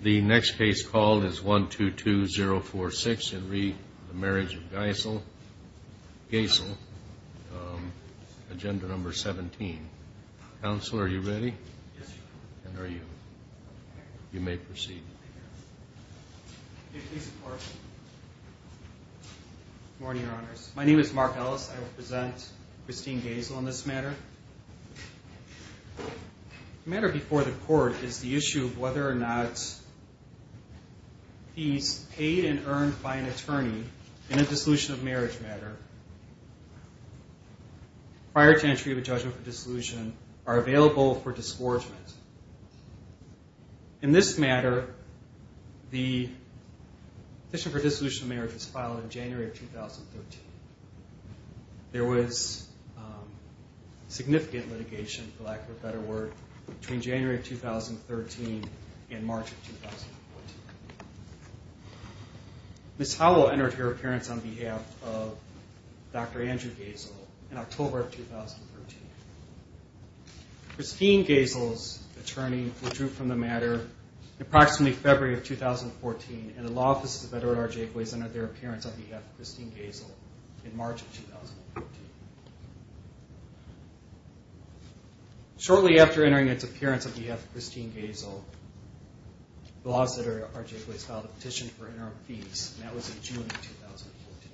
The next case called is 122046 in re Marriage of Goesel, Goesel, um, Agenda Number 17. Counselor, are you ready? Yes, sir. And are you? You may proceed. Good morning, Your Honors. My name is Mark Ellis. I will present Christine Goesel on this matter. The matter before the court is the issue of whether or not fees paid and earned by an attorney in a dissolution of marriage matter prior to entry of a judgment for dissolution are available for disgorgement. In this matter, the petition for dissolution of marriage was filed in January of 2013. There was significant litigation, for lack of a better word, between January of 2013 and March of 2014. Ms. Howell entered her appearance on behalf of Dr. Andrew Goesel in October of 2013. Christine Goesel's attorney withdrew from the matter in approximately February of 2014, and the Law Office of the Federal Attorney's Office entered their appearance on behalf of Christine Goesel in March of 2014. Shortly after entering its appearance on behalf of Christine Goesel, the Law Office of the Federal Attorney's Office filed a petition for interim fees, and that was in June of 2014.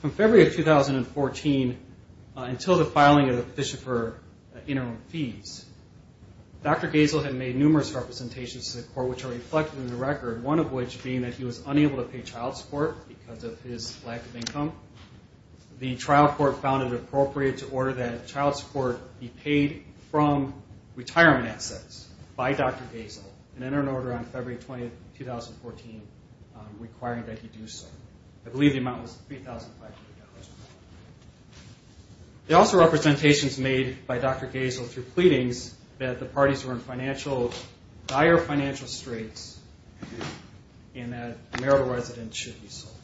From February of 2014 until the filing of the petition for interim fees, Dr. Goesel had made numerous representations to the court which are reflected in the record, one of which being that he was unable to pay child support because of his lack of income. The trial court found it appropriate to order that child support be paid from retirement assets by Dr. Goesel and entered an order on February 20, 2014, requiring that he do so. I believe the amount was $3,500. There are also representations made by Dr. Goesel through pleadings that the parties were in dire financial straits and that marital residence should be sold.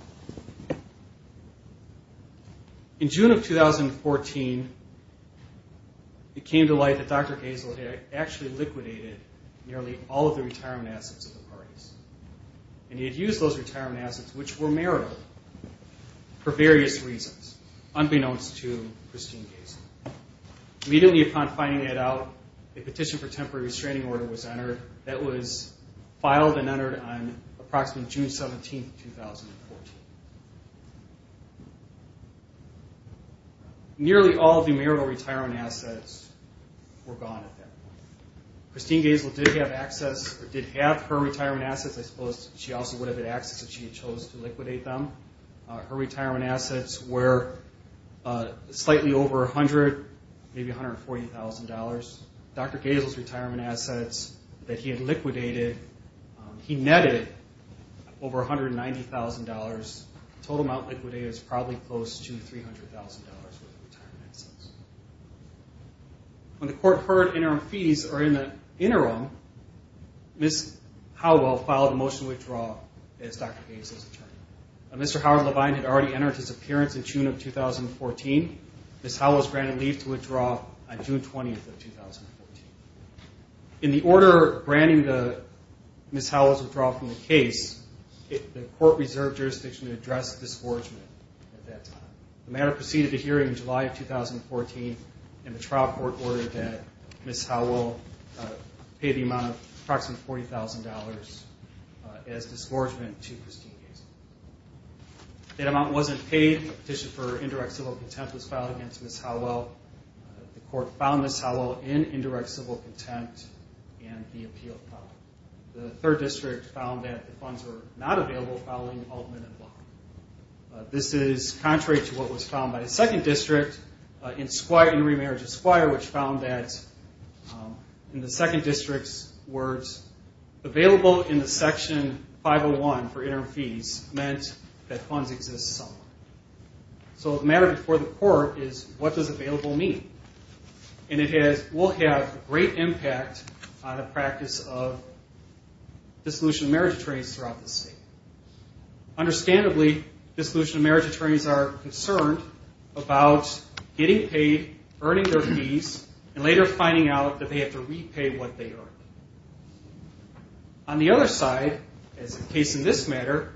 In June of 2014, it came to light that Dr. Goesel had actually liquidated nearly all of the retirement assets of the parties, and he had used those retirement assets, which were marital, for various reasons, unbeknownst to Christine Goesel. Immediately upon finding that out, a petition for temporary restraining order was entered. That was filed and entered on approximately June 17, 2014. Nearly all of the marital retirement assets were gone at that point. Christine Goesel did have her retirement assets. I suppose she also would have had access if she had chosen to liquidate them. Her retirement assets were slightly over $100,000, maybe $140,000. Dr. Goesel's retirement assets that he had liquidated, he netted over $190,000. The total amount liquidated was probably close to $300,000 worth of retirement assets. When the court heard interim fees are in the interim, Ms. Howell filed a motion to withdraw as Dr. Goesel's attorney. Mr. Howard Levine had already entered his appearance in June of 2014. Ms. Howell was granted leave to withdraw on June 20, 2014. In the order granting Ms. Howell's withdrawal from the case, the court reserved jurisdiction to address the disgorgement at that time. The matter proceeded to hearing in July of 2014. The trial court ordered that Ms. Howell pay the amount of approximately $40,000 as disgorgement to Christine Goesel. That amount wasn't paid. A petition for indirect civil contempt was filed against Ms. Howell. The court found Ms. Howell in indirect civil contempt and the appeal filed. The 3rd District found that the funds were not available following Altman and Block. This is contrary to what was found by the 2nd District in remarriage of squire, which found that in the 2nd District's words, available in the Section 501 for interim fees meant that funds exist somewhere. So the matter before the court is what does available mean? And it will have great impact on the practice of dissolution of marriage trades throughout the state. Understandably, dissolution of marriage attorneys are concerned about getting paid, earning their fees, and later finding out that they have to repay what they earned. On the other side, as is the case in this matter,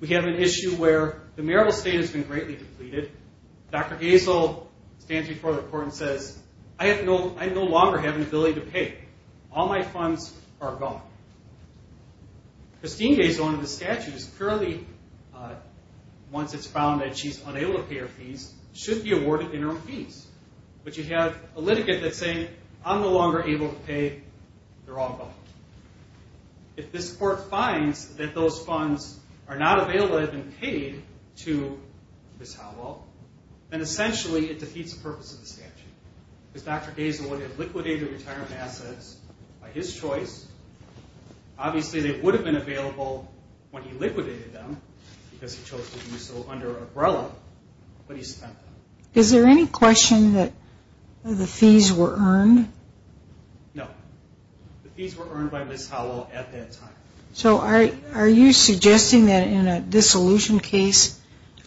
we have an issue where the marital state has been greatly depleted. Dr. Goesel stands before the court and says, I no longer have an ability to pay. All my funds are gone. Christine Goesel, under the statute, is currently, once it's found that she's unable to pay her fees, should be awarded interim fees. But you have a litigant that's saying, I'm no longer able to pay. They're all gone. If this court finds that those funds are not available and have been paid to Ms. Howell, then essentially it defeats the purpose of the statute. Because Dr. Goesel would have liquidated the retirement assets by his choice. Obviously, they would have been available when he liquidated them because he chose to do so under Umbrella, but he spent them. Is there any question that the fees were earned? No. The fees were earned by Ms. Howell at that time. So are you suggesting that in a dissolution case,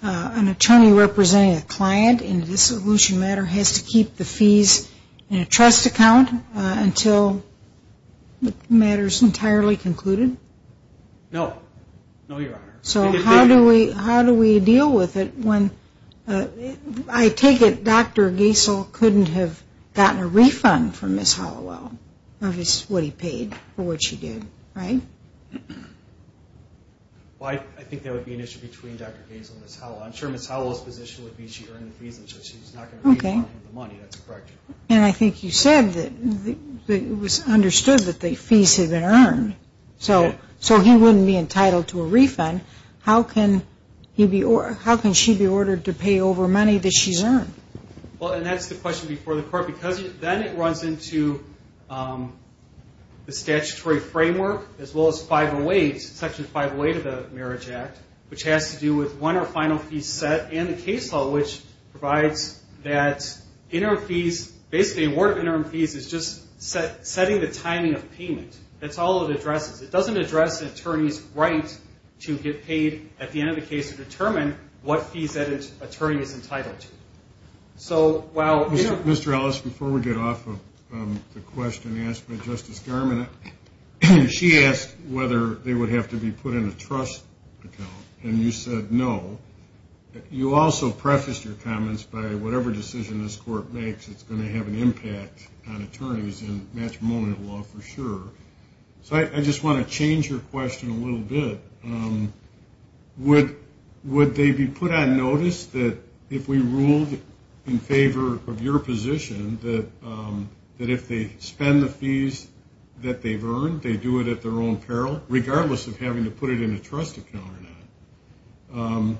an attorney representing a client in a dissolution matter has to keep the fees in a trust account until the matter is entirely concluded? No. No, Your Honor. So how do we deal with it when, I take it Dr. Goesel couldn't have gotten a refund from Ms. Howell of what he paid for what she did, right? Well, I think there would be an issue between Dr. Goesel and Ms. Howell. I'm sure Ms. Howell's position would be she earned the fees and so she's not going to refund him the money. That's correct. And I think you said that it was understood that the fees had been earned. So he wouldn't be entitled to a refund. How can she be ordered to pay over money that she's earned? Well, and that's the question before the Court because then it runs into the statutory framework as well as Section 508 of the Marriage Act, which has to do with one or final fees set and the case law, which provides that interim fees, basically a warrant of interim fees is just setting the timing of payment. That's all it addresses. It doesn't address an attorney's right to get paid at the end of the case to determine what fees that attorney is entitled to. Mr. Ellis, before we get off of the question asked by Justice Garmon, she asked whether they would have to be put in a trust account and you said no. You also prefaced your comments by whatever decision this Court makes, it's going to have an impact on attorneys in matrimonial law for sure. So I just want to change your question a little bit. Would they be put on notice that if we ruled in favor of your position that if they spend the fees that they've earned, they do it at their own peril regardless of having to put it in a trust account or not?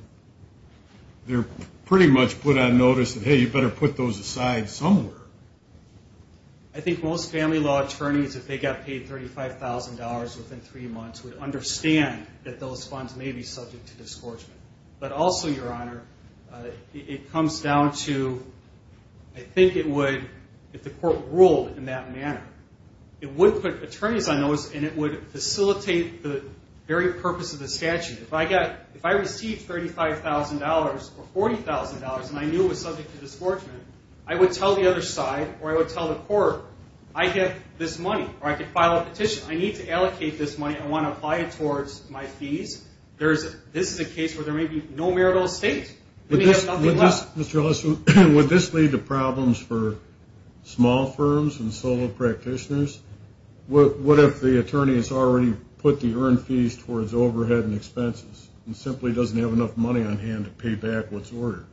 They're pretty much put on notice that, hey, you better put those aside somewhere. I think most family law attorneys, if they got paid $35,000 within three months, would understand that those funds may be subject to disgorgement. But also, Your Honor, it comes down to I think it would, if the Court ruled in that manner, it would put attorneys on notice and it would facilitate the very purpose of the statute. If I received $35,000 or $40,000 and I knew it was subject to disgorgement, I would tell the other side or I would tell the Court I get this money or I could file a petition. I need to allocate this money. I want to apply it towards my fees. This is a case where there may be no marital estate and they have nothing left. Would this lead to problems for small firms and solo practitioners? What if the attorney has already put the earned fees towards overhead and expenses and simply doesn't have enough money on hand to pay back what's ordered?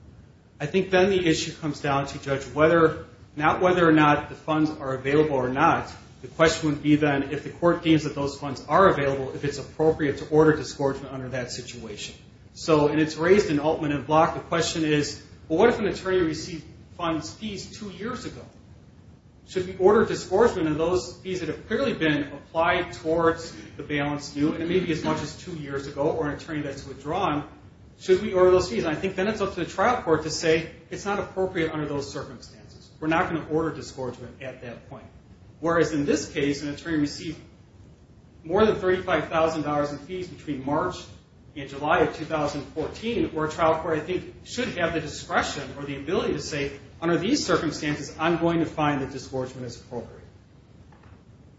I think then the issue comes down to, Judge, not whether or not the funds are available or not. The question would be then if the Court deems that those funds are available, if it's appropriate to order disgorgement under that situation. And it's raised in Altman and Block. The question is, what if an attorney received funds, fees, two years ago? Should we order disgorgement on those fees that have clearly been applied towards the balance new? And it may be as much as two years ago or an attorney that's withdrawn. Should we order those fees? I think then it's up to the trial court to say, it's not appropriate under those circumstances. We're not going to order disgorgement at that point. Whereas in this case, an attorney received more than $35,000 in fees between March and July of 2014, where a trial court, I think, should have the discretion or the ability to say, under these circumstances, I'm going to find that disgorgement is appropriate.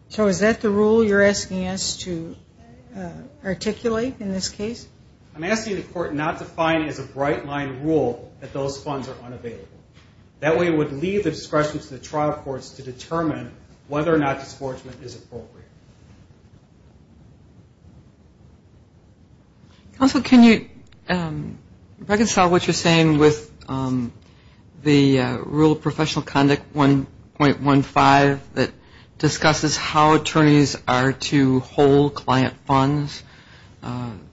So is that the rule you're asking us to articulate in this case? I'm asking the Court not to find as a bright-line rule that those funds are unavailable. That way it would leave the discretion to the trial courts to determine whether or not disgorgement is appropriate. Counsel, can you reconcile what you're saying with the Rule of Professional Conduct 1.15 that discusses how attorneys are to hold client funds?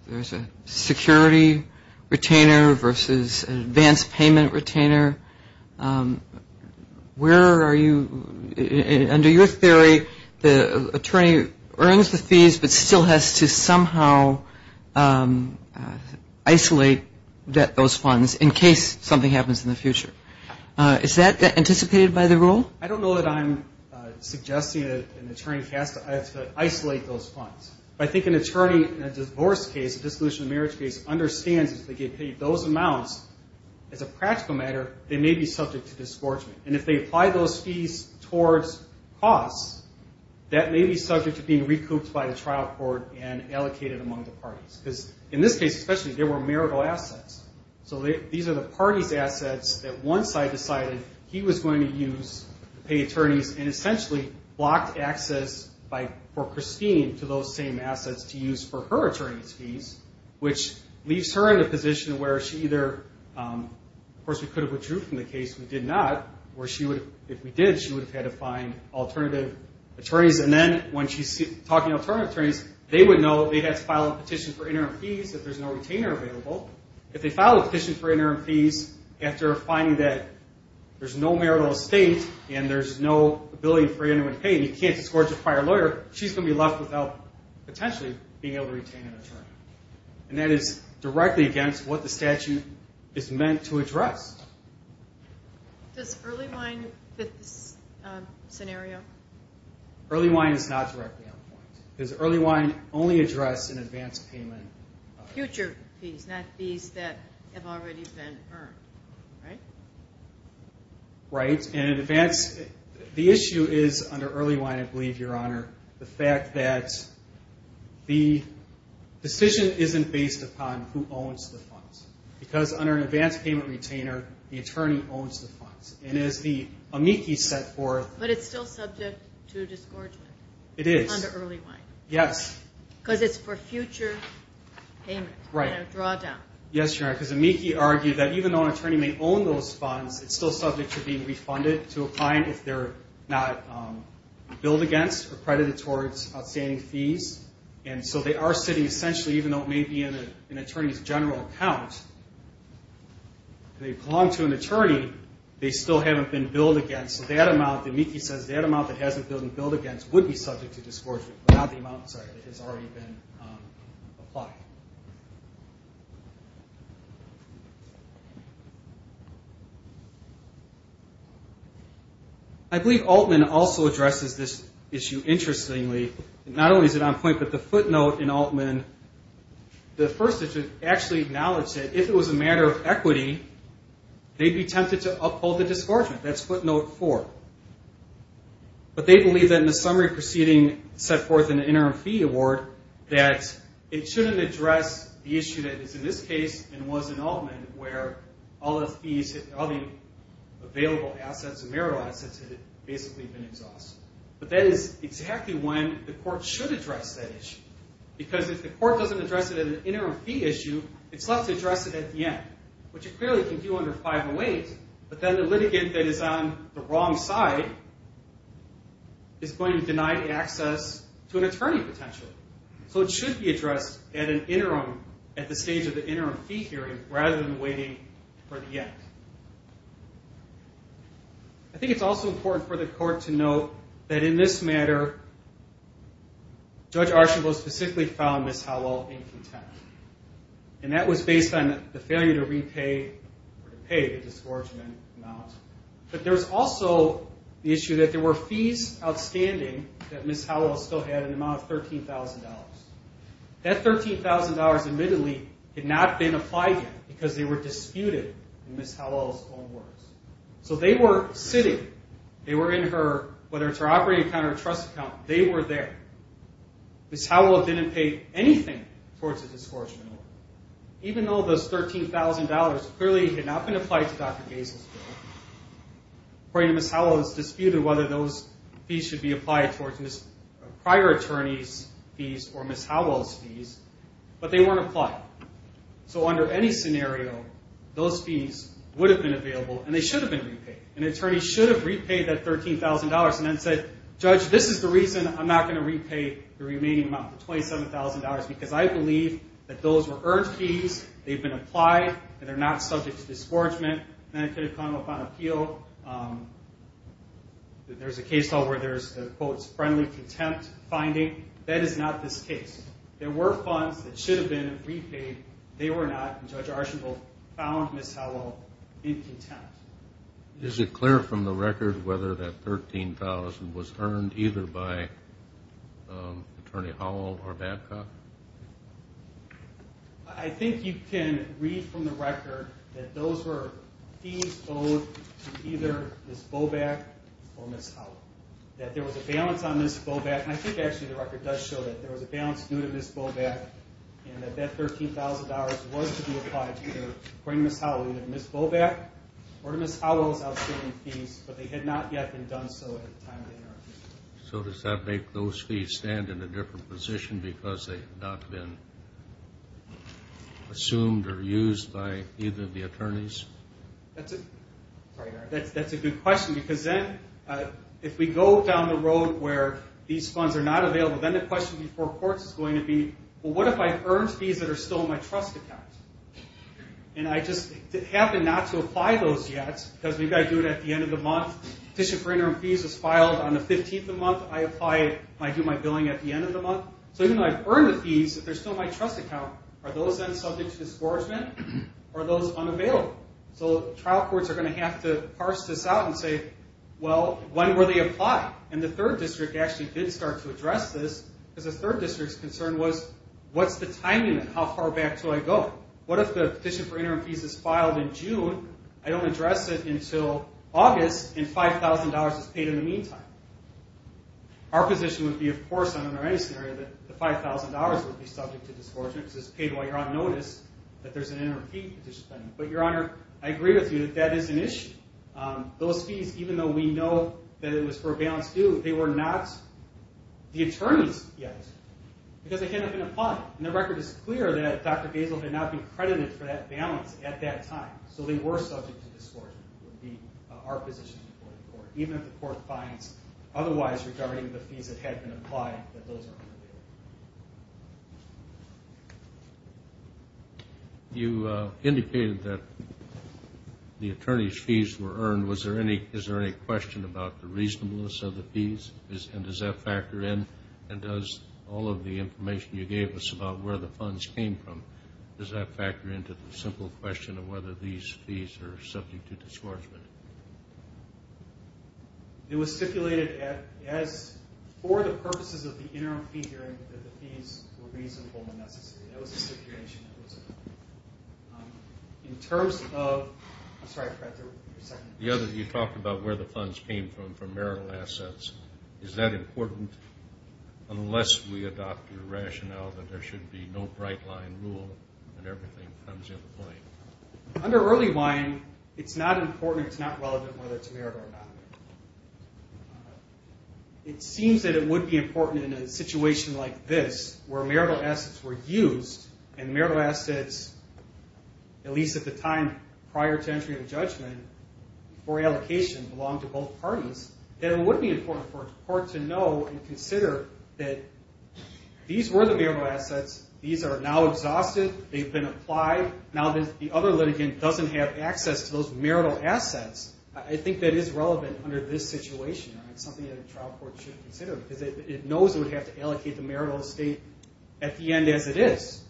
There's a security retainer versus an advance payment retainer. Where are you, under your theory, the attorney earns the fees, but still has to somehow isolate those funds in case something happens in the future. Is that anticipated by the rule? I don't know that I'm suggesting that an attorney has to isolate those funds. I think an attorney in a divorce case, a dissolution of marriage case, understands if they get paid those amounts, as a practical matter, they may be subject to disgorgement. And if they apply those fees towards costs, that may be subject to being recouped by the trial court and allocated among the parties. Because in this case, especially, there were marital assets. So these are the parties' assets that once I decided he was going to use to pay attorneys and essentially blocked access for Christine to those same assets to use for her attorney's fees, which leaves her in a position where she either, of course, we could have withdrew from the case. We did not. Or if we did, she would have had to find alternative attorneys. And then, when she's talking to alternative attorneys, they would know they had to file a petition for interim fees if there's no retainer available. If they file a petition for interim fees after finding that there's no marital estate and there's no ability for anyone to pay and you can't disgorge a prior lawyer, she's going to be left without potentially being able to retain an attorney. And that is directly against what the statute is meant to address. Does early wine fit this scenario? Early wine is not directly on point. Because early wine only addressed an advance payment. Future fees, not fees that have already been earned, right? Right. And the issue is, under early wine, I believe, Your Honor, the fact that the decision isn't based upon who owns the funds. Because under an advance payment retainer, the attorney owns the funds. And as the amici set forth. But it's still subject to disgorgement. It is. Under early wine. Yes. Because it's for future payment. Right. Drawdown. Yes, Your Honor. Because amici argue that even though an attorney may own those funds, it's still subject to being refunded to a client if they're not billed against or credited towards outstanding fees. And so they are sitting essentially, even though it may be in an attorney's general account, they belong to an attorney, they still haven't been billed against. So that amount, the amici says, that amount that hasn't been billed against would be subject to disgorgement, without the amount that has already been applied. I believe Altman also addresses this issue interestingly. Not only is it on point, but the footnote in Altman, the first is to actually acknowledge that if it was a matter of equity, they'd be tempted to uphold the disgorgement. That's footnote four. But they believe that in the summary proceeding set forth in the interim fee award, that it shouldn't address the issue that is in this case and was in Altman, where all the available assets and marital assets had basically been exhausted. But that is exactly when the court should address that issue. Because if the court doesn't address it in an interim fee issue, it's left to address it at the end, which it clearly can do under 508. But then the litigant that is on the wrong side is going to be denied access to an attorney potentially. So it should be addressed at the stage of the interim fee hearing rather than waiting for the end. I think it's also important for the court to note that in this matter, Judge Archambault specifically found Ms. Hallel incontent. And that was based on the failure to repay the disgorgement amount. But there's also the issue that there were fees outstanding that Ms. Hallel still had an amount of $13,000. That $13,000 admittedly had not been applied yet because they were disputed in Ms. Hallel's own words. So they were sitting, they were in her, whether it's her operating account or her trust account, they were there. Ms. Hallel didn't pay anything towards the disgorgement. Even though those $13,000 clearly had not been applied to Dr. Gaines's bill, according to Ms. Hallel, it was disputed whether those fees should be applied towards prior attorneys' fees or Ms. Hallel's fees, but they weren't applied. So under any scenario, those fees would have been available and they should have been repaid. An attorney should have repaid that $13,000 and then said, Judge, this is the reason I'm not going to repay the remaining amount, the $27,000, because I believe that those were earned fees, they've been applied, and they're not subject to disgorgement. Then it could have come up on appeal. There's a case where there's a, quote, friendly contempt finding. That is not this case. There were funds that should have been repaid. They were not, and Judge Archibald found Ms. Hallel in contempt. Is it clear from the record whether that $13,000 was earned either by Attorney Hallel or Babcock? I think you can read from the record that those were fees owed to either Ms. Boback or Ms. Hallel. That there was a balance on Ms. Boback, and I think actually the record does show that there was a balance due to Ms. Boback, and that that $13,000 was to be owed to Ms. Boback or to Ms. Hallel's outstanding fees, but they had not yet been done so at the time of the interrogation. So does that make those fees stand in a different position because they've not been assumed or used by either of the attorneys? That's a good question, because then if we go down the road where these funds are not available, then the question before courts is going to be, well, what if I've earned fees that are still in my trust account? And I just happen not to apply those yet because we've got to do it at the end of the month. The petition for interim fees was filed on the 15th of the month. I apply it, and I do my billing at the end of the month. So even though I've earned the fees, they're still in my trust account. Are those then subject to disgorgement? Are those unavailable? So trial courts are going to have to parse this out and say, well, when were they applied? And the 3rd District actually did start to address this because the 3rd What if the petition for interim fees is filed in June, I don't address it until August, and $5,000 is paid in the meantime? Our position would be, of course, under any scenario, that the $5,000 would be subject to disgorgement because it's paid while you're on notice that there's an interim fee petition pending. But, Your Honor, I agree with you that that is an issue. Those fees, even though we know that it was for a balance due, they were not the attorney's yet because they hadn't been applied. And the record is clear that Dr. Gazel had not been credited for that balance at that time. So they were subject to disgorgement would be our position, even if the court finds otherwise regarding the fees that had been applied that those are unavailable. You indicated that the attorney's fees were earned. Is there any question about the reasonableness of the fees? And does that factor in? And does all of the information you gave us about where the funds came from, does that factor into the simple question of whether these fees are subject to disgorgement? It was stipulated as for the purposes of the interim fee hearing that the fees were reasonable necessity. That was the stipulation. In terms of the other, you talked about where the funds came from, from marital assets. Is that important unless we adopt the rationale that there should be no bright-line rule and everything comes into play? Under early buying, it's not important or it's not relevant whether it's marital or not. It seems that it would be important in a situation like this where marital assets were used and marital assets, at least at the time prior to entry into judgment, for allocation belong to both parties, that it would be important for a court to know and consider that these were the marital assets. These are now exhausted. They've been applied. Now the other litigant doesn't have access to those marital assets. I think that is relevant under this situation. It's something that a trial court should consider because it knows it would have to allocate the marital estate at the end as it is.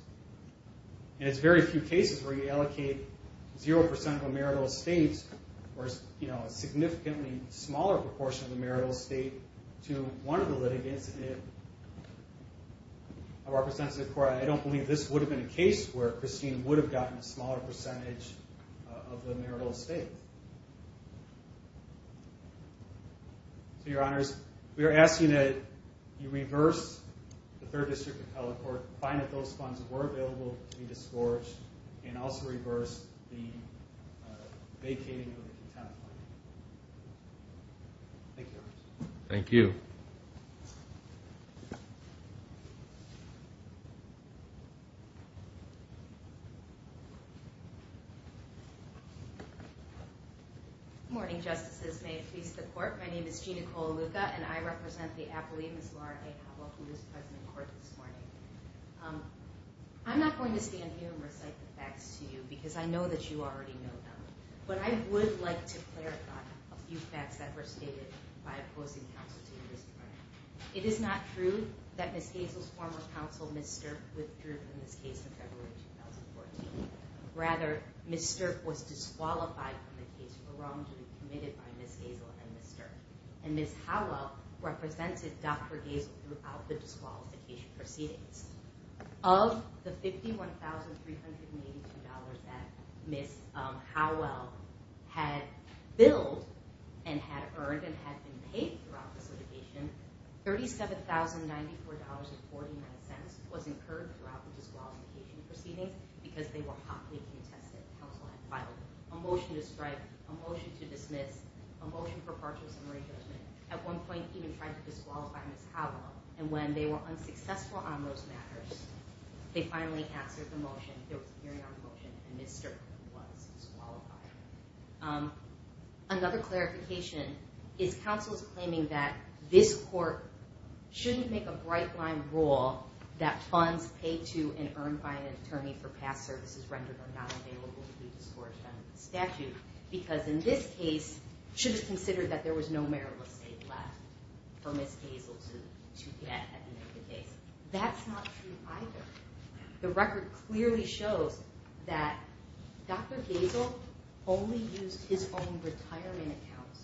It's very few cases where you allocate 0% of a marital estate or a significantly smaller proportion of the marital estate to one of the litigants. I don't believe this would have been a case where Christine would have gotten a smaller percentage of the marital estate. Your Honors, we are asking that you reverse the Third District appellate court, find that those funds were available to be discouraged, and also reverse the vacating of the contempt line. Thank you, Your Honors. Thank you. Good morning, Justices. May it please the Court, my name is Gina Colaluca, and I represent the appellee, Ms. Laura A. Howell, who is present in court this morning. I'm not going to stand here and recite the facts to you because I know that you already know them, but I would like to clarify a few facts that were stated by opposing counsel to you this morning. It is not true that Ms. Hazel's former counsel, Ms. Sterk, withdrew from this case in February 2014. Rather, Ms. Sterk was disqualified from the case for wrongdoing committed by Ms. Hazel and Ms. Sterk. And Ms. Howell represented Dr. Hazel throughout the disqualification proceedings. Of the $51,382 that Ms. Howell had billed and had earned and had been paid throughout this litigation, $37,094.49 was incurred throughout the disqualification proceedings because they were hotly contested. Counsel had filed a motion to strike, a motion to dismiss, a motion for partial summary judgment, at one point even tried to disqualify Ms. Howell, and when they were unsuccessful on those matters, they finally answered the motion. There was a hearing on the motion, and Ms. Sterk was disqualified. Another clarification is counsel's claiming that this court shouldn't make a bright-line rule that funds paid to and earned by an attorney for past services rendered are not available to be discouraged under the statute because in this case, it should have been considered that there was no marital estate left for Ms. Hazel to get at the end of the case. That's not true either. The record clearly shows that Dr. Hazel only used his own retirement accounts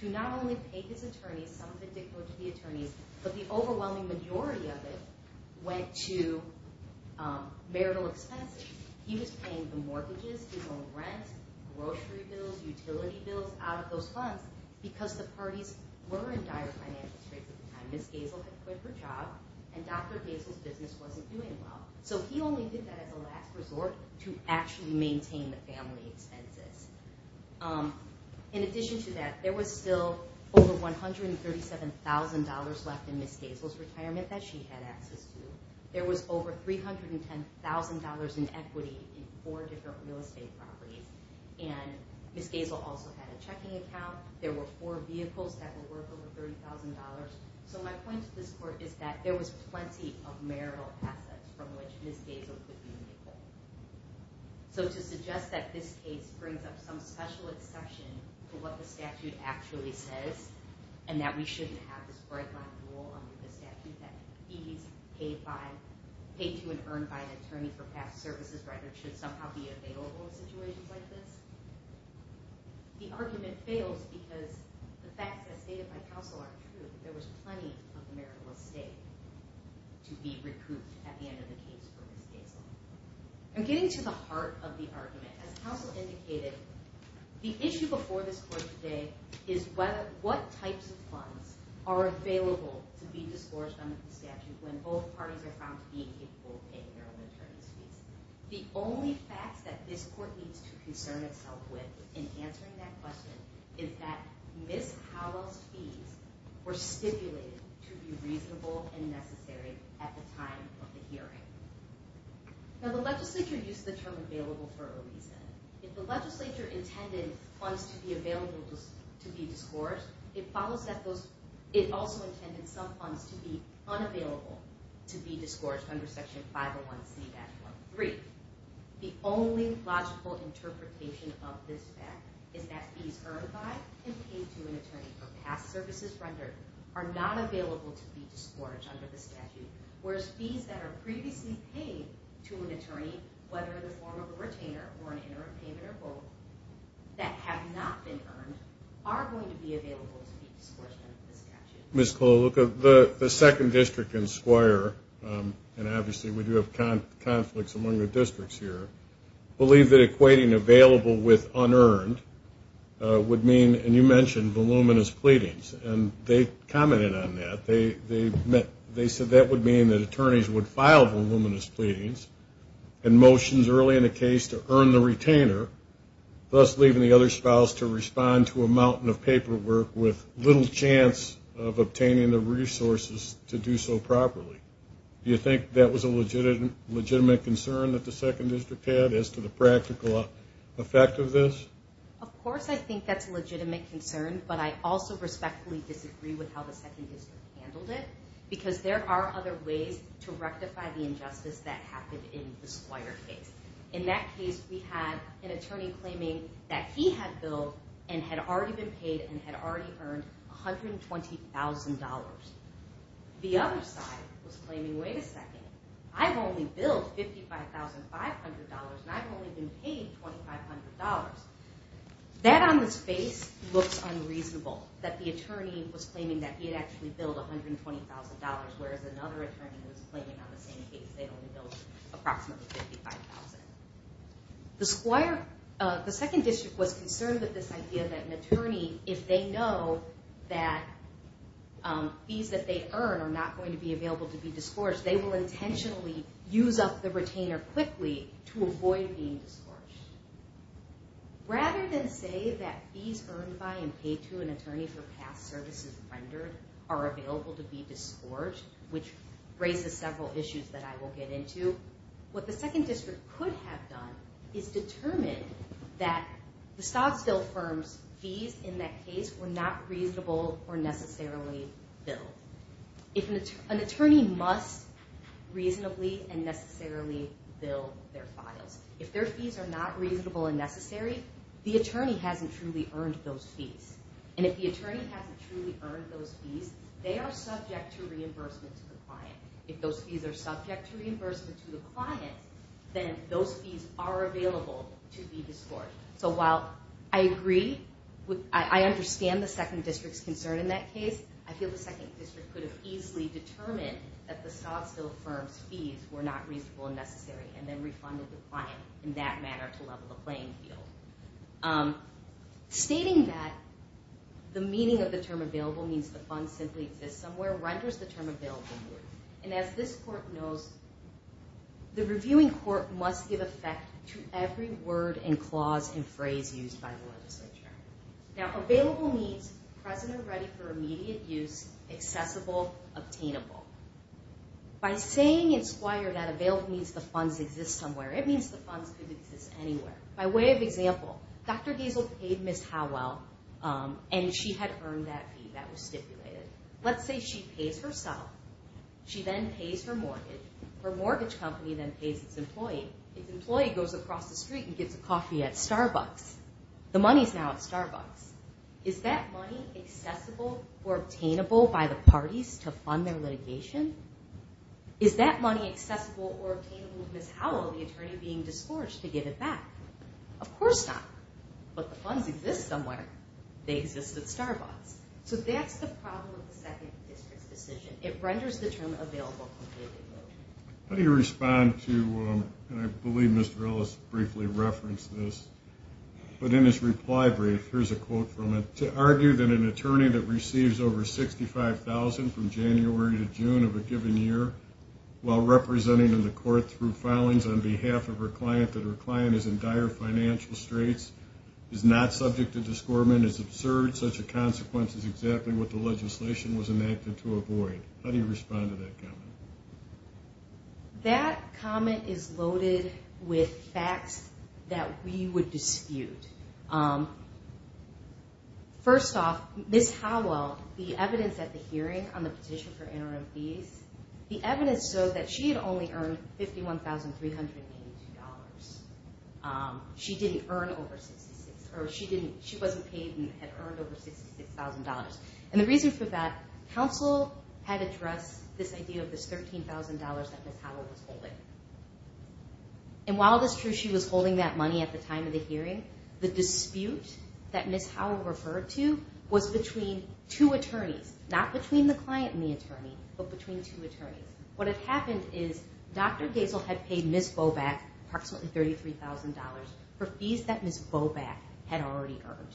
to not only pay his attorneys, some of it did go to the attorneys, but the overwhelming majority of it went to marital expenses. He was paying the mortgages, his own rent, grocery bills, utility bills, out of those funds because the parties were in dire financial straits at the time. Ms. Hazel had quit her job, and Dr. Hazel's business wasn't doing well. So he only did that as a last resort to actually maintain the family expenses. In addition to that, there was still over $137,000 left in Ms. Hazel's retirement that she had access to. There was over $310,000 in equity in four different real estate properties, and Ms. Hazel also had a checking account. There were four vehicles that were worth over $30,000. So my point to this court is that there was plenty of marital assets from which Ms. Hazel could be remitted. So to suggest that this case brings up some special exception to what the statute actually says, and that we shouldn't have under the statute that fees paid to and earned by an attorney for past services should somehow be available in situations like this, the argument fails because the facts that are stated by counsel are true. There was plenty of marital estate to be recouped at the end of the case for Ms. Hazel. I'm getting to the heart of the argument. As counsel indicated, the issue before this court today is what types of funds are available to be disgorged under the statute when both parties are found to be incapable of paying their own attorney's fees. The only facts that this court needs to concern itself with in answering that question is that Ms. Hazel's fees were stipulated to be reasonable and necessary at the time of the hearing. Now the legislature used the term available for a reason. If the legislature intended funds to be available to be disgorged, it also intended some funds to be unavailable to be disgorged under Section 501C-3. The only logical interpretation of this fact is that fees earned by and paid to an attorney for past services rendered are not available to be disgorged under the statute, whereas fees that are previously paid to an attorney, whether in the form of a retainer or an interim payment or both, that have not been earned are going to be available to be disgorged under the statute. Ms. Cole, the second district in Squire, and obviously we do have conflicts among the districts here, believe that equating available with unearned would mean, and you mentioned voluminous pleadings, and they commented on that. They said that would mean that attorneys would file voluminous pleadings and motions early in a case to earn the retainer, thus leaving the other spouse to respond to a mountain of paperwork with little chance of obtaining the resources to do so properly. Do you think that was a legitimate concern that the second district had as to the practical effect of this? Of course I think that's a legitimate concern, but I also respectfully disagree with how the second district handled it because there are other ways to rectify the injustice that happened in the Squire case. In that case, we had an attorney claiming that he had billed and had already been paid and had already earned $120,000. The other side was claiming, wait a second, I've only billed $55,500 and I've only been paid $2,500. That on its face looks unreasonable, that the attorney was claiming that he had actually billed $120,000, whereas another attorney was claiming on the same case they only billed approximately $55,000. The second district was concerned with this idea that an attorney, if they know that fees that they earn are not going to be available to be discouraged, they will intentionally use up the retainer quickly to avoid being discouraged. Rather than say that fees earned by and paid to an attorney for past services rendered are available to be discouraged, which raises several issues that I will get into, what the second district could have done is determined that the Stoddsville firm's fees in that case were not reasonable or necessarily billed. An attorney must reasonably and necessarily bill their files. If their fees are not reasonable and necessary, the attorney hasn't truly earned those fees. And if the attorney hasn't truly earned those fees, they are subject to reimbursement to the client. If those fees are subject to reimbursement to the client, then those fees are available to be discouraged. So while I agree, I understand the second district's concern in that case, I feel the second district could have easily determined that the Stoddsville firm's fees were not reasonable and necessary and then refunded the client in that manner to level the playing field. Stating that, the meaning of the term available means the funds simply exist somewhere, renders the term available new. And as this court knows, the reviewing court must give effect to every word and clause and phrase used by the legislature. Now available means present or ready for immediate use, accessible, obtainable. By saying in Squire that available means the funds exist somewhere, it means the funds could exist anywhere. By way of example, Dr. Giesel paid Ms. Howell and she had earned that fee that was stipulated. Let's say she pays herself. She then pays her mortgage. Her mortgage company then pays its employee. Its employee goes across the street and gets a coffee at Starbucks. The money's now at Starbucks. Is that money accessible or obtainable by the parties to fund their litigation? Is that money accessible or obtainable to Ms. Howell, the attorney being discouraged, to give it back? Of course not. But the funds exist somewhere. They exist at Starbucks. So that's the problem with the second district's decision. It renders the term available completely new. How do you respond to, and I believe Mr. Ellis briefly referenced this, but in his reply brief, here's a quote from it, to argue that an attorney that receives over $65,000 from January to June of a given year while representing in the court through filings on behalf of her client, that her client is in dire financial straits, is not subject to discouragement, is absurd, such a consequence is exactly what the legislation was enacted to avoid. How do you respond to that comment? That comment is loaded with facts that we would dispute. First off, Ms. Howell, the evidence at the hearing on the petition for interim fees, the evidence showed that she had only earned $51,382. She didn't earn over $66,000, or she wasn't paid and had earned over $66,000. And the reason for that, counsel had addressed this idea of this $13,000 that Ms. Howell was holding. And while it is true she was holding that money at the time of the hearing, the dispute that Ms. Howell referred to was between two attorneys, not between the client and the attorney, but between two attorneys. What had happened is Dr. Gaisel had paid Ms. Boback approximately $33,000 for fees that Ms. Boback had already earned.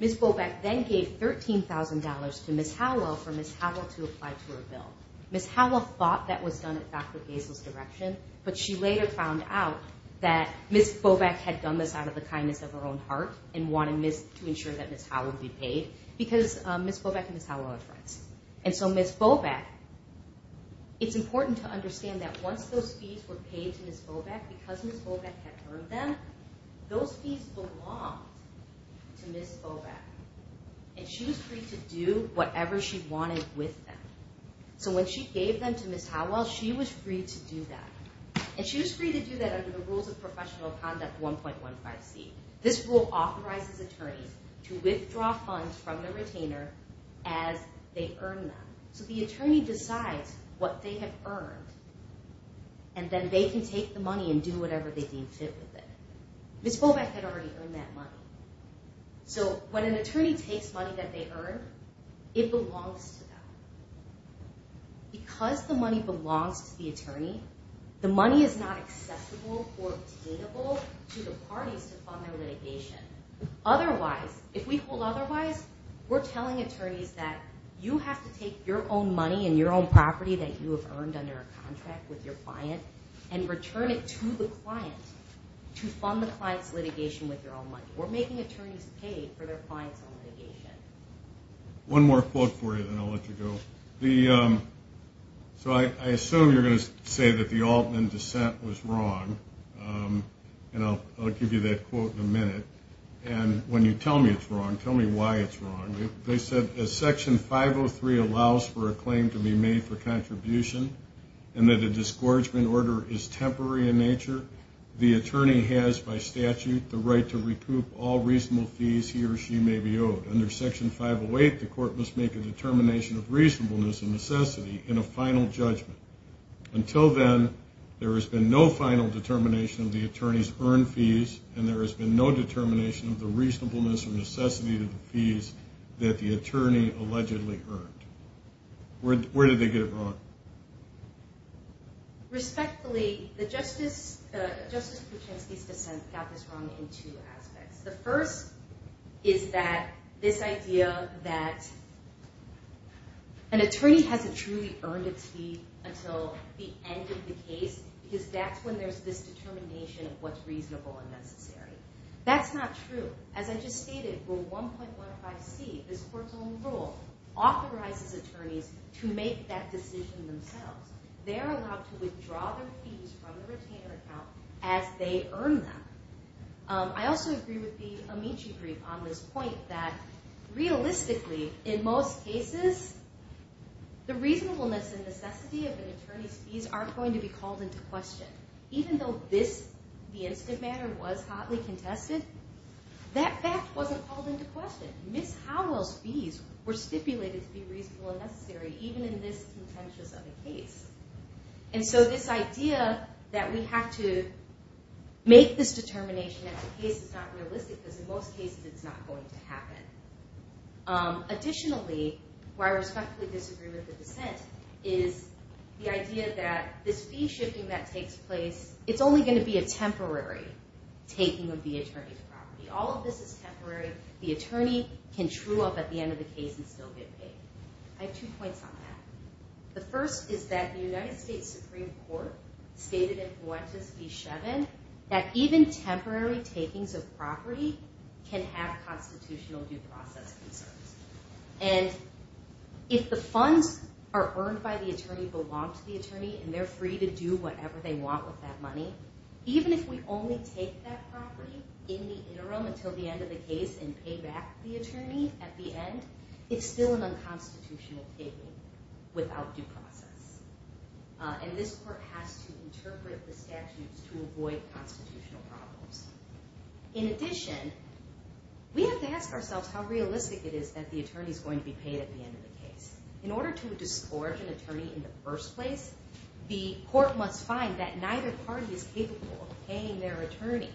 Ms. Boback then gave $13,000 to Ms. Howell for Ms. Howell to apply to her bill. Ms. Howell thought that was done at Dr. Gaisel's direction, but she later found out that Ms. Boback had done this out of the kindness of her own heart and wanted to ensure that Ms. Howell would be paid, because Ms. Boback and Ms. Howell are friends. And so Ms. Boback, it's important to understand that once those fees were paid to Ms. Boback because Ms. Boback had earned them, those fees belonged to Ms. Boback. And she was free to do whatever she wanted with them. So when she gave them to Ms. Howell, she was free to do that. And she was free to do that under the Rules of Professional Conduct 1.15c. This rule authorizes attorneys to withdraw funds from the retainer as they earn them. So the attorney decides what they have earned, and then they can take the money and do whatever they deem fit with it. Ms. Boback had already earned that money. So when an attorney takes money that they earned, it belongs to them. Because the money belongs to the attorney, the money is not acceptable or obtainable to the parties to fund their litigation. Otherwise, if we hold otherwise, we're telling attorneys that you have to take your own money and your own property that you have earned under a contract with your client and return it to the client to fund the client's litigation with your own money. We're making attorneys pay for their client's own litigation. One more quote for you, then I'll let you go. So I assume you're going to say that the Altman dissent was wrong. And I'll give you that quote in a minute. And when you tell me it's wrong, tell me why it's wrong. They said, as Section 503 allows for a claim to be made for contribution and that a disgorgement order is temporary in nature, the attorney has by statute the right to recoup all reasonable fees he or she may be owed. Under Section 508, the court must make a determination of reasonableness and necessity in a final judgment. Until then, there has been no final determination of the attorney's earned fees, and there has been no determination of the reasonableness or necessity of the fees that the attorney allegedly earned. Where did they get it wrong? Respectfully, Justice Kuczynski's dissent got this wrong in two aspects. The first is that this idea that an attorney hasn't truly earned a fee until the end of the case because that's when there's this determination of what's reasonable and necessary. That's not true. As I just stated, Rule 1.15c, this court's own rule, authorizes attorneys to make that decision themselves. They're allowed to withdraw their fees from the retainer account as they earn them. I also agree with the Amici grief on this point that realistically, in most cases, the reasonableness and necessity of an attorney's fees aren't going to be called into question. Even though the incident matter was hotly contested, that fact wasn't called into question. Ms. Howell's fees were stipulated to be reasonable and necessary, even in this contentious of a case. And so this idea that we have to make this determination at the case is not realistic because in most cases it's not going to happen. Additionally, where I respectfully disagree with the dissent, is the idea that this fee shifting that takes place, it's only going to be a temporary taking of the attorney's property. All of this is temporary. The attorney can true up at the end of the case and still get paid. I have two points on that. The first is that the United States Supreme Court stated in Fuentes v. Shevin that even temporary takings of property can have constitutional due process concerns. And if the funds are earned by the attorney, belong to the attorney, and they're free to do whatever they want with that money, even if we only take that property in the interim until the end of the case and pay back the attorney at the end, it's still an unconstitutional taking without due process. And this court has to interpret the statutes to avoid constitutional problems. In addition, we have to ask ourselves how realistic it is that the attorney is going to be paid at the end of the case. In order to disgorge an attorney in the first place, the court must find that neither party is capable of paying their attorney.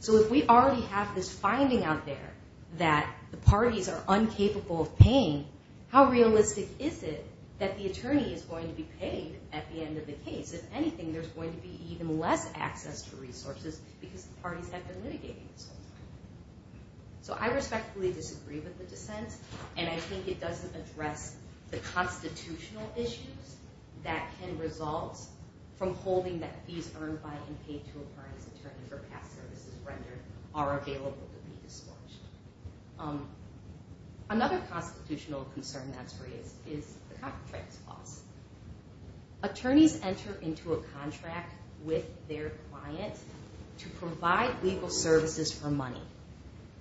So if we already have this finding out there that the parties are incapable of paying, how realistic is it that the attorney is going to be paid at the end of the case? If anything, there's going to be even less access to resources because the parties have been litigating this whole time. So I respectfully disagree with the dissent, and I think it doesn't address the constitutional issues that can result from holding that fees earned by and paid to a party's attorney for past services rendered are available to be disgorged. Another constitutional concern that's raised is the contract clause. Attorneys enter into a contract with their client to provide legal services for money.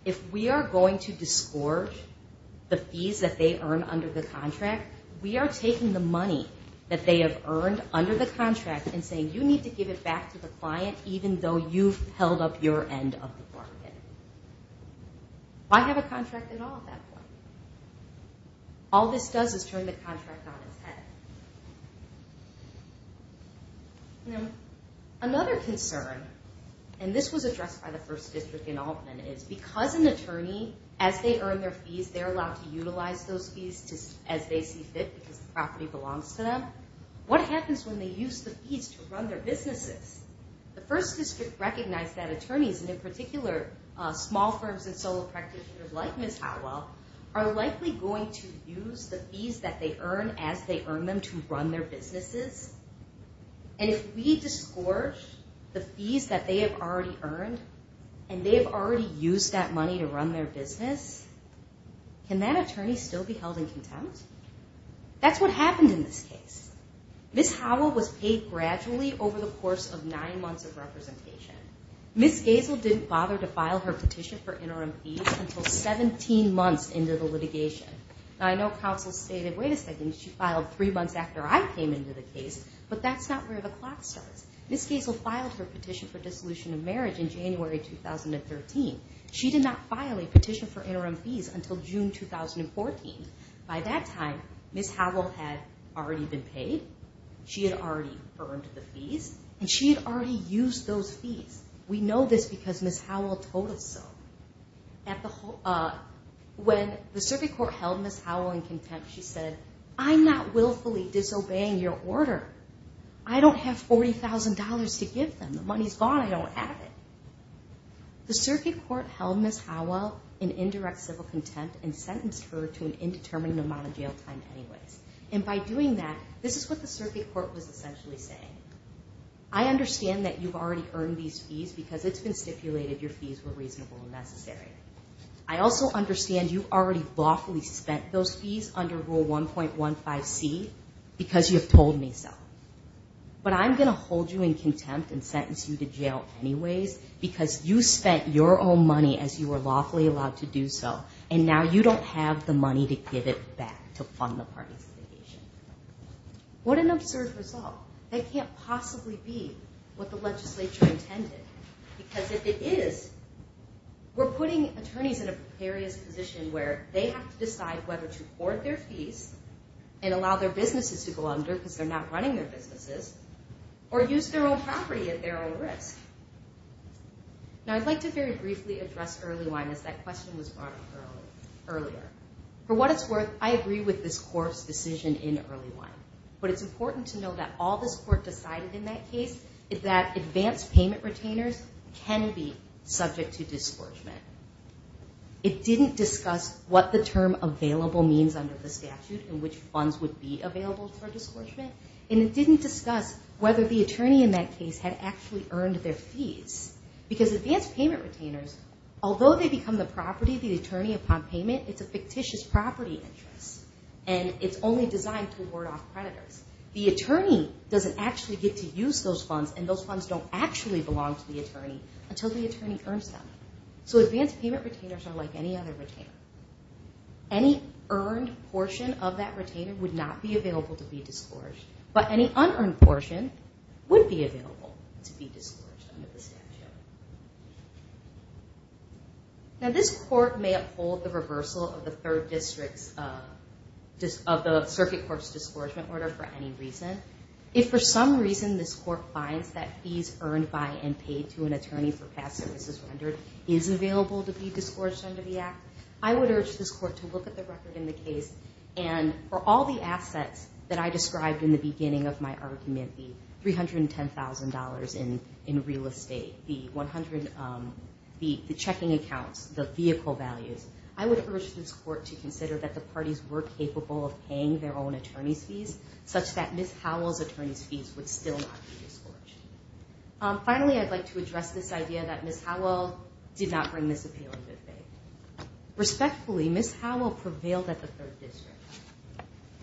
If we are going to disgorge the fees that they earn under the contract, we are taking the money that they have earned under the contract and saying, you need to give it back to the client even though you've held up your end of the bargain. Why have a contract at all at that point? All this does is turn the contract on its head. Another concern, and this was addressed by the first district in Altman, is because an attorney, as they earn their fees, they're allowed to utilize those fees as they see fit because the property belongs to them. What happens when they use the fees to run their businesses? The first district recognized that attorneys, and in particular small firms and solo practitioners like Ms. Howell, are likely going to use the fees that they earn as they earn them to run their businesses. And if we disgorge the fees that they have already earned, and they've already used that money to run their business, can that attorney still be held in contempt? That's what happened in this case. Ms. Howell was paid gradually over the course of nine months of representation. Ms. Gazel didn't bother to file her petition for interim fees until 17 months into the litigation. I know counsel stated, wait a second, she filed three months after I came into the case, but that's not where the clock starts. Ms. Gazel filed her petition for dissolution of marriage in January 2013. She did not file a petition for interim fees until June 2014. By that time, Ms. Howell had already been paid, she had already earned the fees, and she had already used those fees. We know this because Ms. Howell told us so. When the circuit court held Ms. Howell in contempt, she said, I'm not willfully disobeying your order. I don't have $40,000 to give them. The money's gone. I don't have it. The circuit court held Ms. Howell in indirect civil contempt and sentenced her to an indeterminate amount of jail time anyways. And by doing that, this is what the circuit court was essentially saying. I understand that you've already earned these fees because it's been stipulated your fees were reasonable and necessary. I also understand you've already lawfully spent those fees under Rule 1.15C because you've told me so. But I'm going to hold you in contempt and sentence you to jail anyways because you spent your own money as you were lawfully allowed to do so. And now you don't have the money to give it back to fund the participation. What an absurd result. That can't possibly be what the legislature intended. Because if it is, we're putting attorneys in a precarious position where they have to decide whether to hoard their fees and allow their businesses to go under because they're not running their businesses, or use their own property at their own risk. Now I'd like to very briefly address EarlyWine as that question was brought up earlier. For what it's worth, I agree with this court's decision in EarlyWine. But it's important to know that all this court decided in that case is that advanced payment retainers can be subject to disgorgement. It didn't discuss what the term available means under the statute and which funds would be available for disgorgement. And it didn't discuss whether the attorney in that case had actually earned their fees. Because advanced payment retainers, although they become the property of the attorney upon payment, it's a fictitious property interest. And it's only designed to ward off creditors. The attorney doesn't actually get to use those funds and those funds don't actually belong to the attorney until the attorney earns them. So advanced payment retainers are like any other retainer. Any earned portion of that retainer would not be available to be disgorged. But any unearned portion would be available to be disgorged under the statute. Now this court may uphold the reversal of the circuit court's disgorgement order for any reason. If for some reason this court finds that fees earned by and paid to an attorney for past services rendered is available to be disgorged under the act, I would urge this court to look at the record in the case and for all the assets that I described in the beginning of my argument, the $310,000 in real estate, the checking accounts, the vehicle values, I would urge this court to consider that the parties were capable of paying their own attorney's fees such that Ms. Howell's attorney's fees would still not be disgorged. Finally, I'd like to address this idea that Ms. Howell did not bring this appeal in good faith. Respectfully, Ms. Howell prevailed at the third district.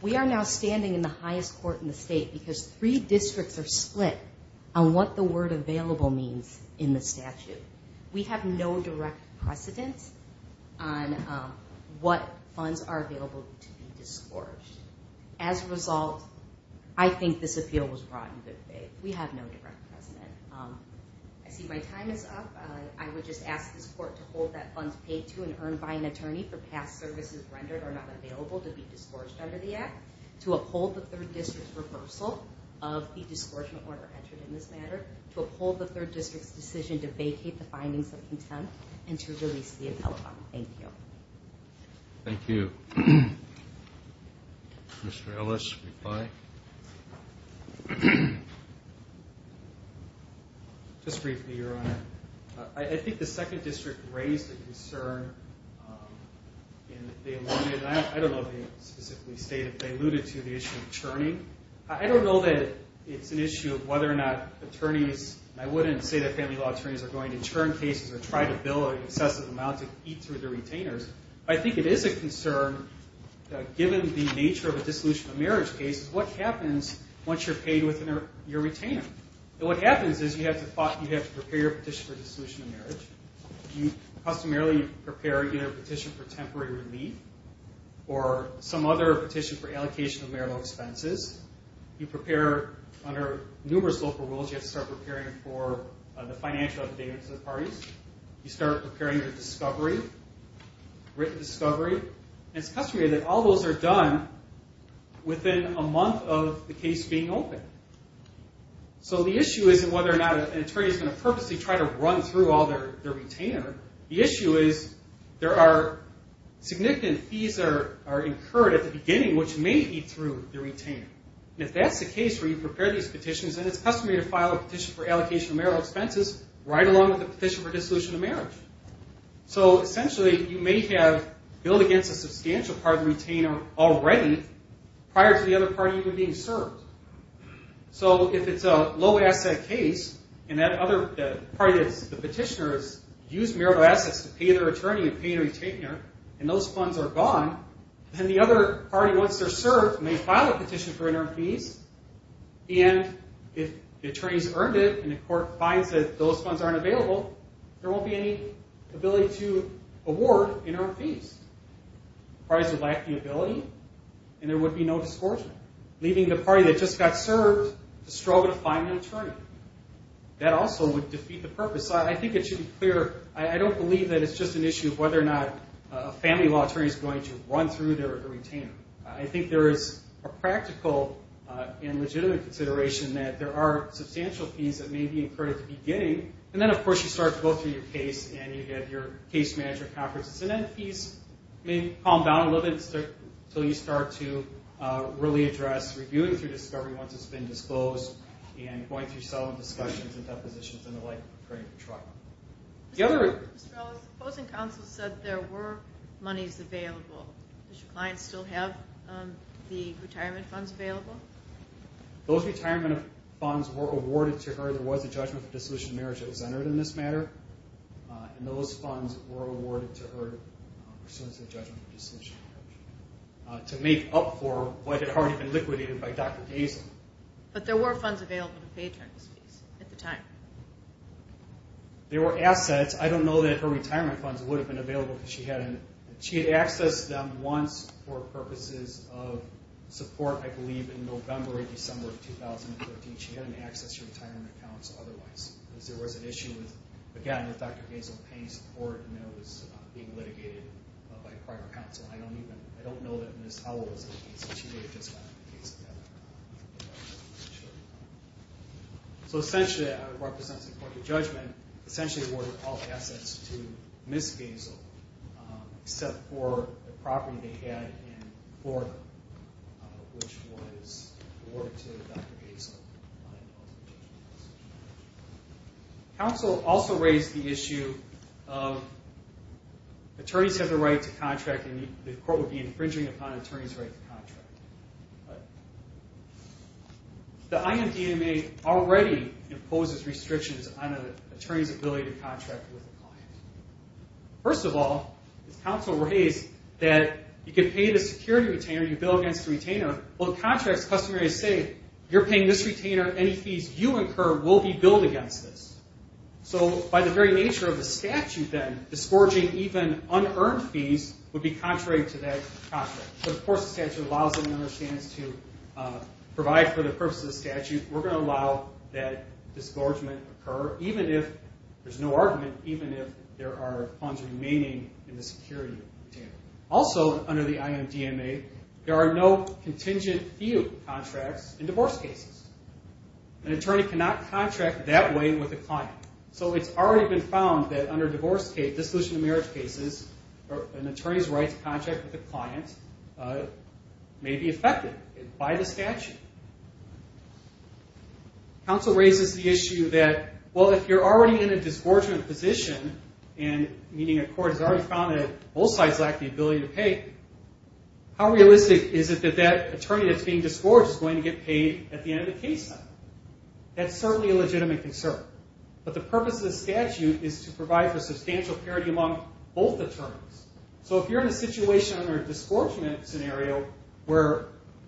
We are now standing in the highest court in the state because three districts are split on what the word available means in the statute. We have no direct precedent on what funds are available to be disgorged. As a result, I think this appeal was brought in good faith. We have no direct precedent. I see my time is up. I would just ask this court to hold that funds paid to and earned by an attorney for past services rendered are not available to be disgorged under the act, to uphold the third district's reversal of the disgorgement order entered in this matter, to uphold the third district's decision to vacate the findings of contempt, and to release the appeal. Thank you. Thank you. Mr. Ellis, reply? Just briefly, Your Honor. I think the second district raised a concern. I don't know if they specifically stated, but they alluded to the issue of churning. I don't know that it's an issue of whether or not attorneys, and I wouldn't say that family law attorneys are going to churn cases or try to bill an excessive amount to eat through the retainers. I think it is a concern, given the nature of a dissolution of marriage case, what happens once you're paid with your retainer. What happens is you have to prepare your petition for dissolution of marriage. You customarily prepare either a petition for temporary relief or some other petition for allocation of marital expenses. You prepare under numerous local rules. You have to start preparing for the financial updates of the parties. You start preparing for discovery, written discovery. And it's customary that all those are done within a month of the case being opened. So the issue isn't whether or not an attorney is going to purposely try to run through all their retainer. The issue is there are significant fees that are incurred at the beginning, which may eat through the retainer. And if that's the case where you prepare these petitions, then it's customary to file a petition for allocation of marital expenses right along with a petition for dissolution of marriage. So essentially, you may have billed against a substantial part of the retainer already prior to the other party even being served. So if it's a low-asset case and that other party, the petitioner, has used marital assets to pay their attorney and pay their retainer, and those funds are gone, then the other party, once they're served, may file a petition for interim fees. And if the attorney's earned it and the court finds that those funds aren't available, there won't be any ability to award interim fees. Parties would lack the ability and there would be no discouragement, leaving the party that just got served to struggle to find an attorney. That also would defeat the purpose. So I think it should be clear. I don't believe that it's just an issue of whether or not a family law attorney is going to run through their retainer. I think there is a practical and legitimate consideration that there are substantial fees that may be incurred at the beginning. And then, of course, you start to go through your case and you have your case manager conferences. And then fees may calm down a little bit until you start to really address reviewing through discovery once it's been disclosed and going through some discussions and depositions and the like. Mr. Ellis, the opposing counsel said there were monies available. Does your client still have the retirement funds available? Those retirement funds were awarded to her. There was a judgment of dissolution of marriage that was entered in this matter. And those funds were awarded to her pursuant to the judgment of dissolution of marriage to make up for what had already been liquidated by Dr. Gaysen. But there were funds available to pay attorneys' fees at the time. There were assets. I don't know that her retirement funds would have been available because she hadn't. She had accessed them once for purposes of support, I believe, in November or December of 2013. She hadn't accessed her retirement accounts otherwise because there was an issue with, again, with Dr. Gaysen paying support and it was being litigated by a prior counsel. I don't know that Ms. Howell was in the case. She may have just gotten the case together. So essentially, it represents a court of judgment, essentially awarded all assets to Ms. Gaysen, except for the property they had in Florida, which was awarded to Dr. Gaysen. Counsel also raised the issue of attorneys have the right to contract and the court would be infringing upon an attorney's right to contract. The IMDMA already imposes restrictions on an attorney's ability to contract with a client. First of all, counsel raised that you can pay the security retainer, you bill against the retainer, while the contract's customary to say, you're paying this retainer, any fees you incur will be billed against this. So by the very nature of the statute then, disgorging even unearned fees would be contrary to that contract. But of course the statute allows them another chance to provide for the purpose of the statute. We're going to allow that disgorgement to occur, even if there's no argument, even if there are funds remaining in the security retainer. Also, under the IMDMA, there are no contingent fee contracts in divorce cases. An attorney cannot contract that way with a client. So it's already been found that under divorce cases, dissolution of marriage cases, an attorney's right to contract with a client may be affected by the statute. Counsel raises the issue that, well, if you're already in a disgorgement position, meaning a court has already found that both sides lack the ability to pay, how realistic is it that that attorney that's being disgorged is going to get paid at the end of the case? That's certainly a legitimate concern. But the purpose of the statute is to provide for substantial parity among both attorneys. So if you're in a situation under a disgorgement scenario where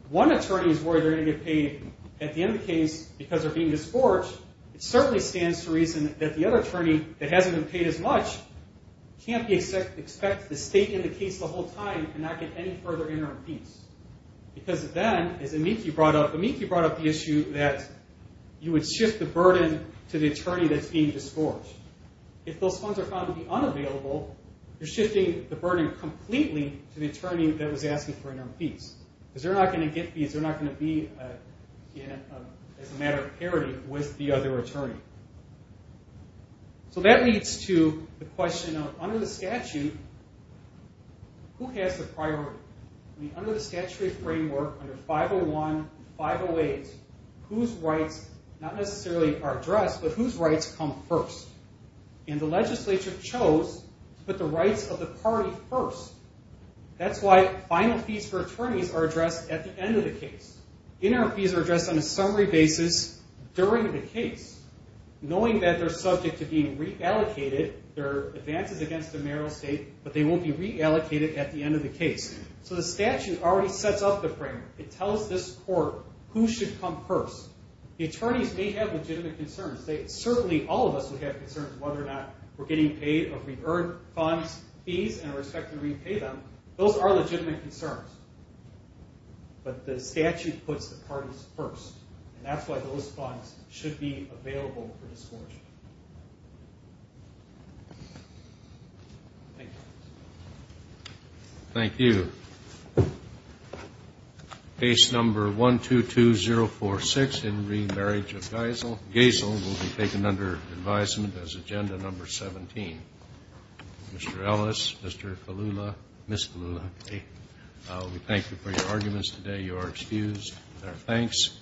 one attorney is worried they're going to get paid at the end of the case because they're being disgorged, it certainly stands to reason that the other attorney that hasn't been paid as much can't expect to stay in the case the whole time and not get any further interim fees. Because then, as Amiki brought up, Amiki brought up the issue that you would shift the burden to the attorney that's being disgorged. If those funds are found to be unavailable, you're shifting the burden completely to the attorney that was asking for interim fees. Because they're not going to get fees, they're not going to be as a matter of parity with the other attorney. So that leads to the question of under the statute, who has the priority? Under the statutory framework, under 501 and 508, whose rights not necessarily are addressed, but whose rights come first? And the legislature chose to put the rights of the party first. That's why final fees for attorneys are addressed at the end of the case. Interim fees are addressed on a summary basis during the case, knowing that they're subject to being reallocated. There are advances against the mayoral estate, but they won't be reallocated at the end of the case. So the statute already sets up the framework. It tells this court who should come first. The attorneys may have legitimate concerns. Certainly all of us would have concerns whether or not we're getting paid or if we earn funds, fees, and are expected to repay them. Those are legitimate concerns. But the statute puts the parties first. And that's why those funds should be available for disbursement. Thank you. Thank you. Case number 122046 in remarriage of Geisel. Geisel will be taken under advisement as agenda number 17. Mr. Ellis, Mr. Kalula, Ms. Kalula, we thank you for your arguments today. You are excused. Thanks.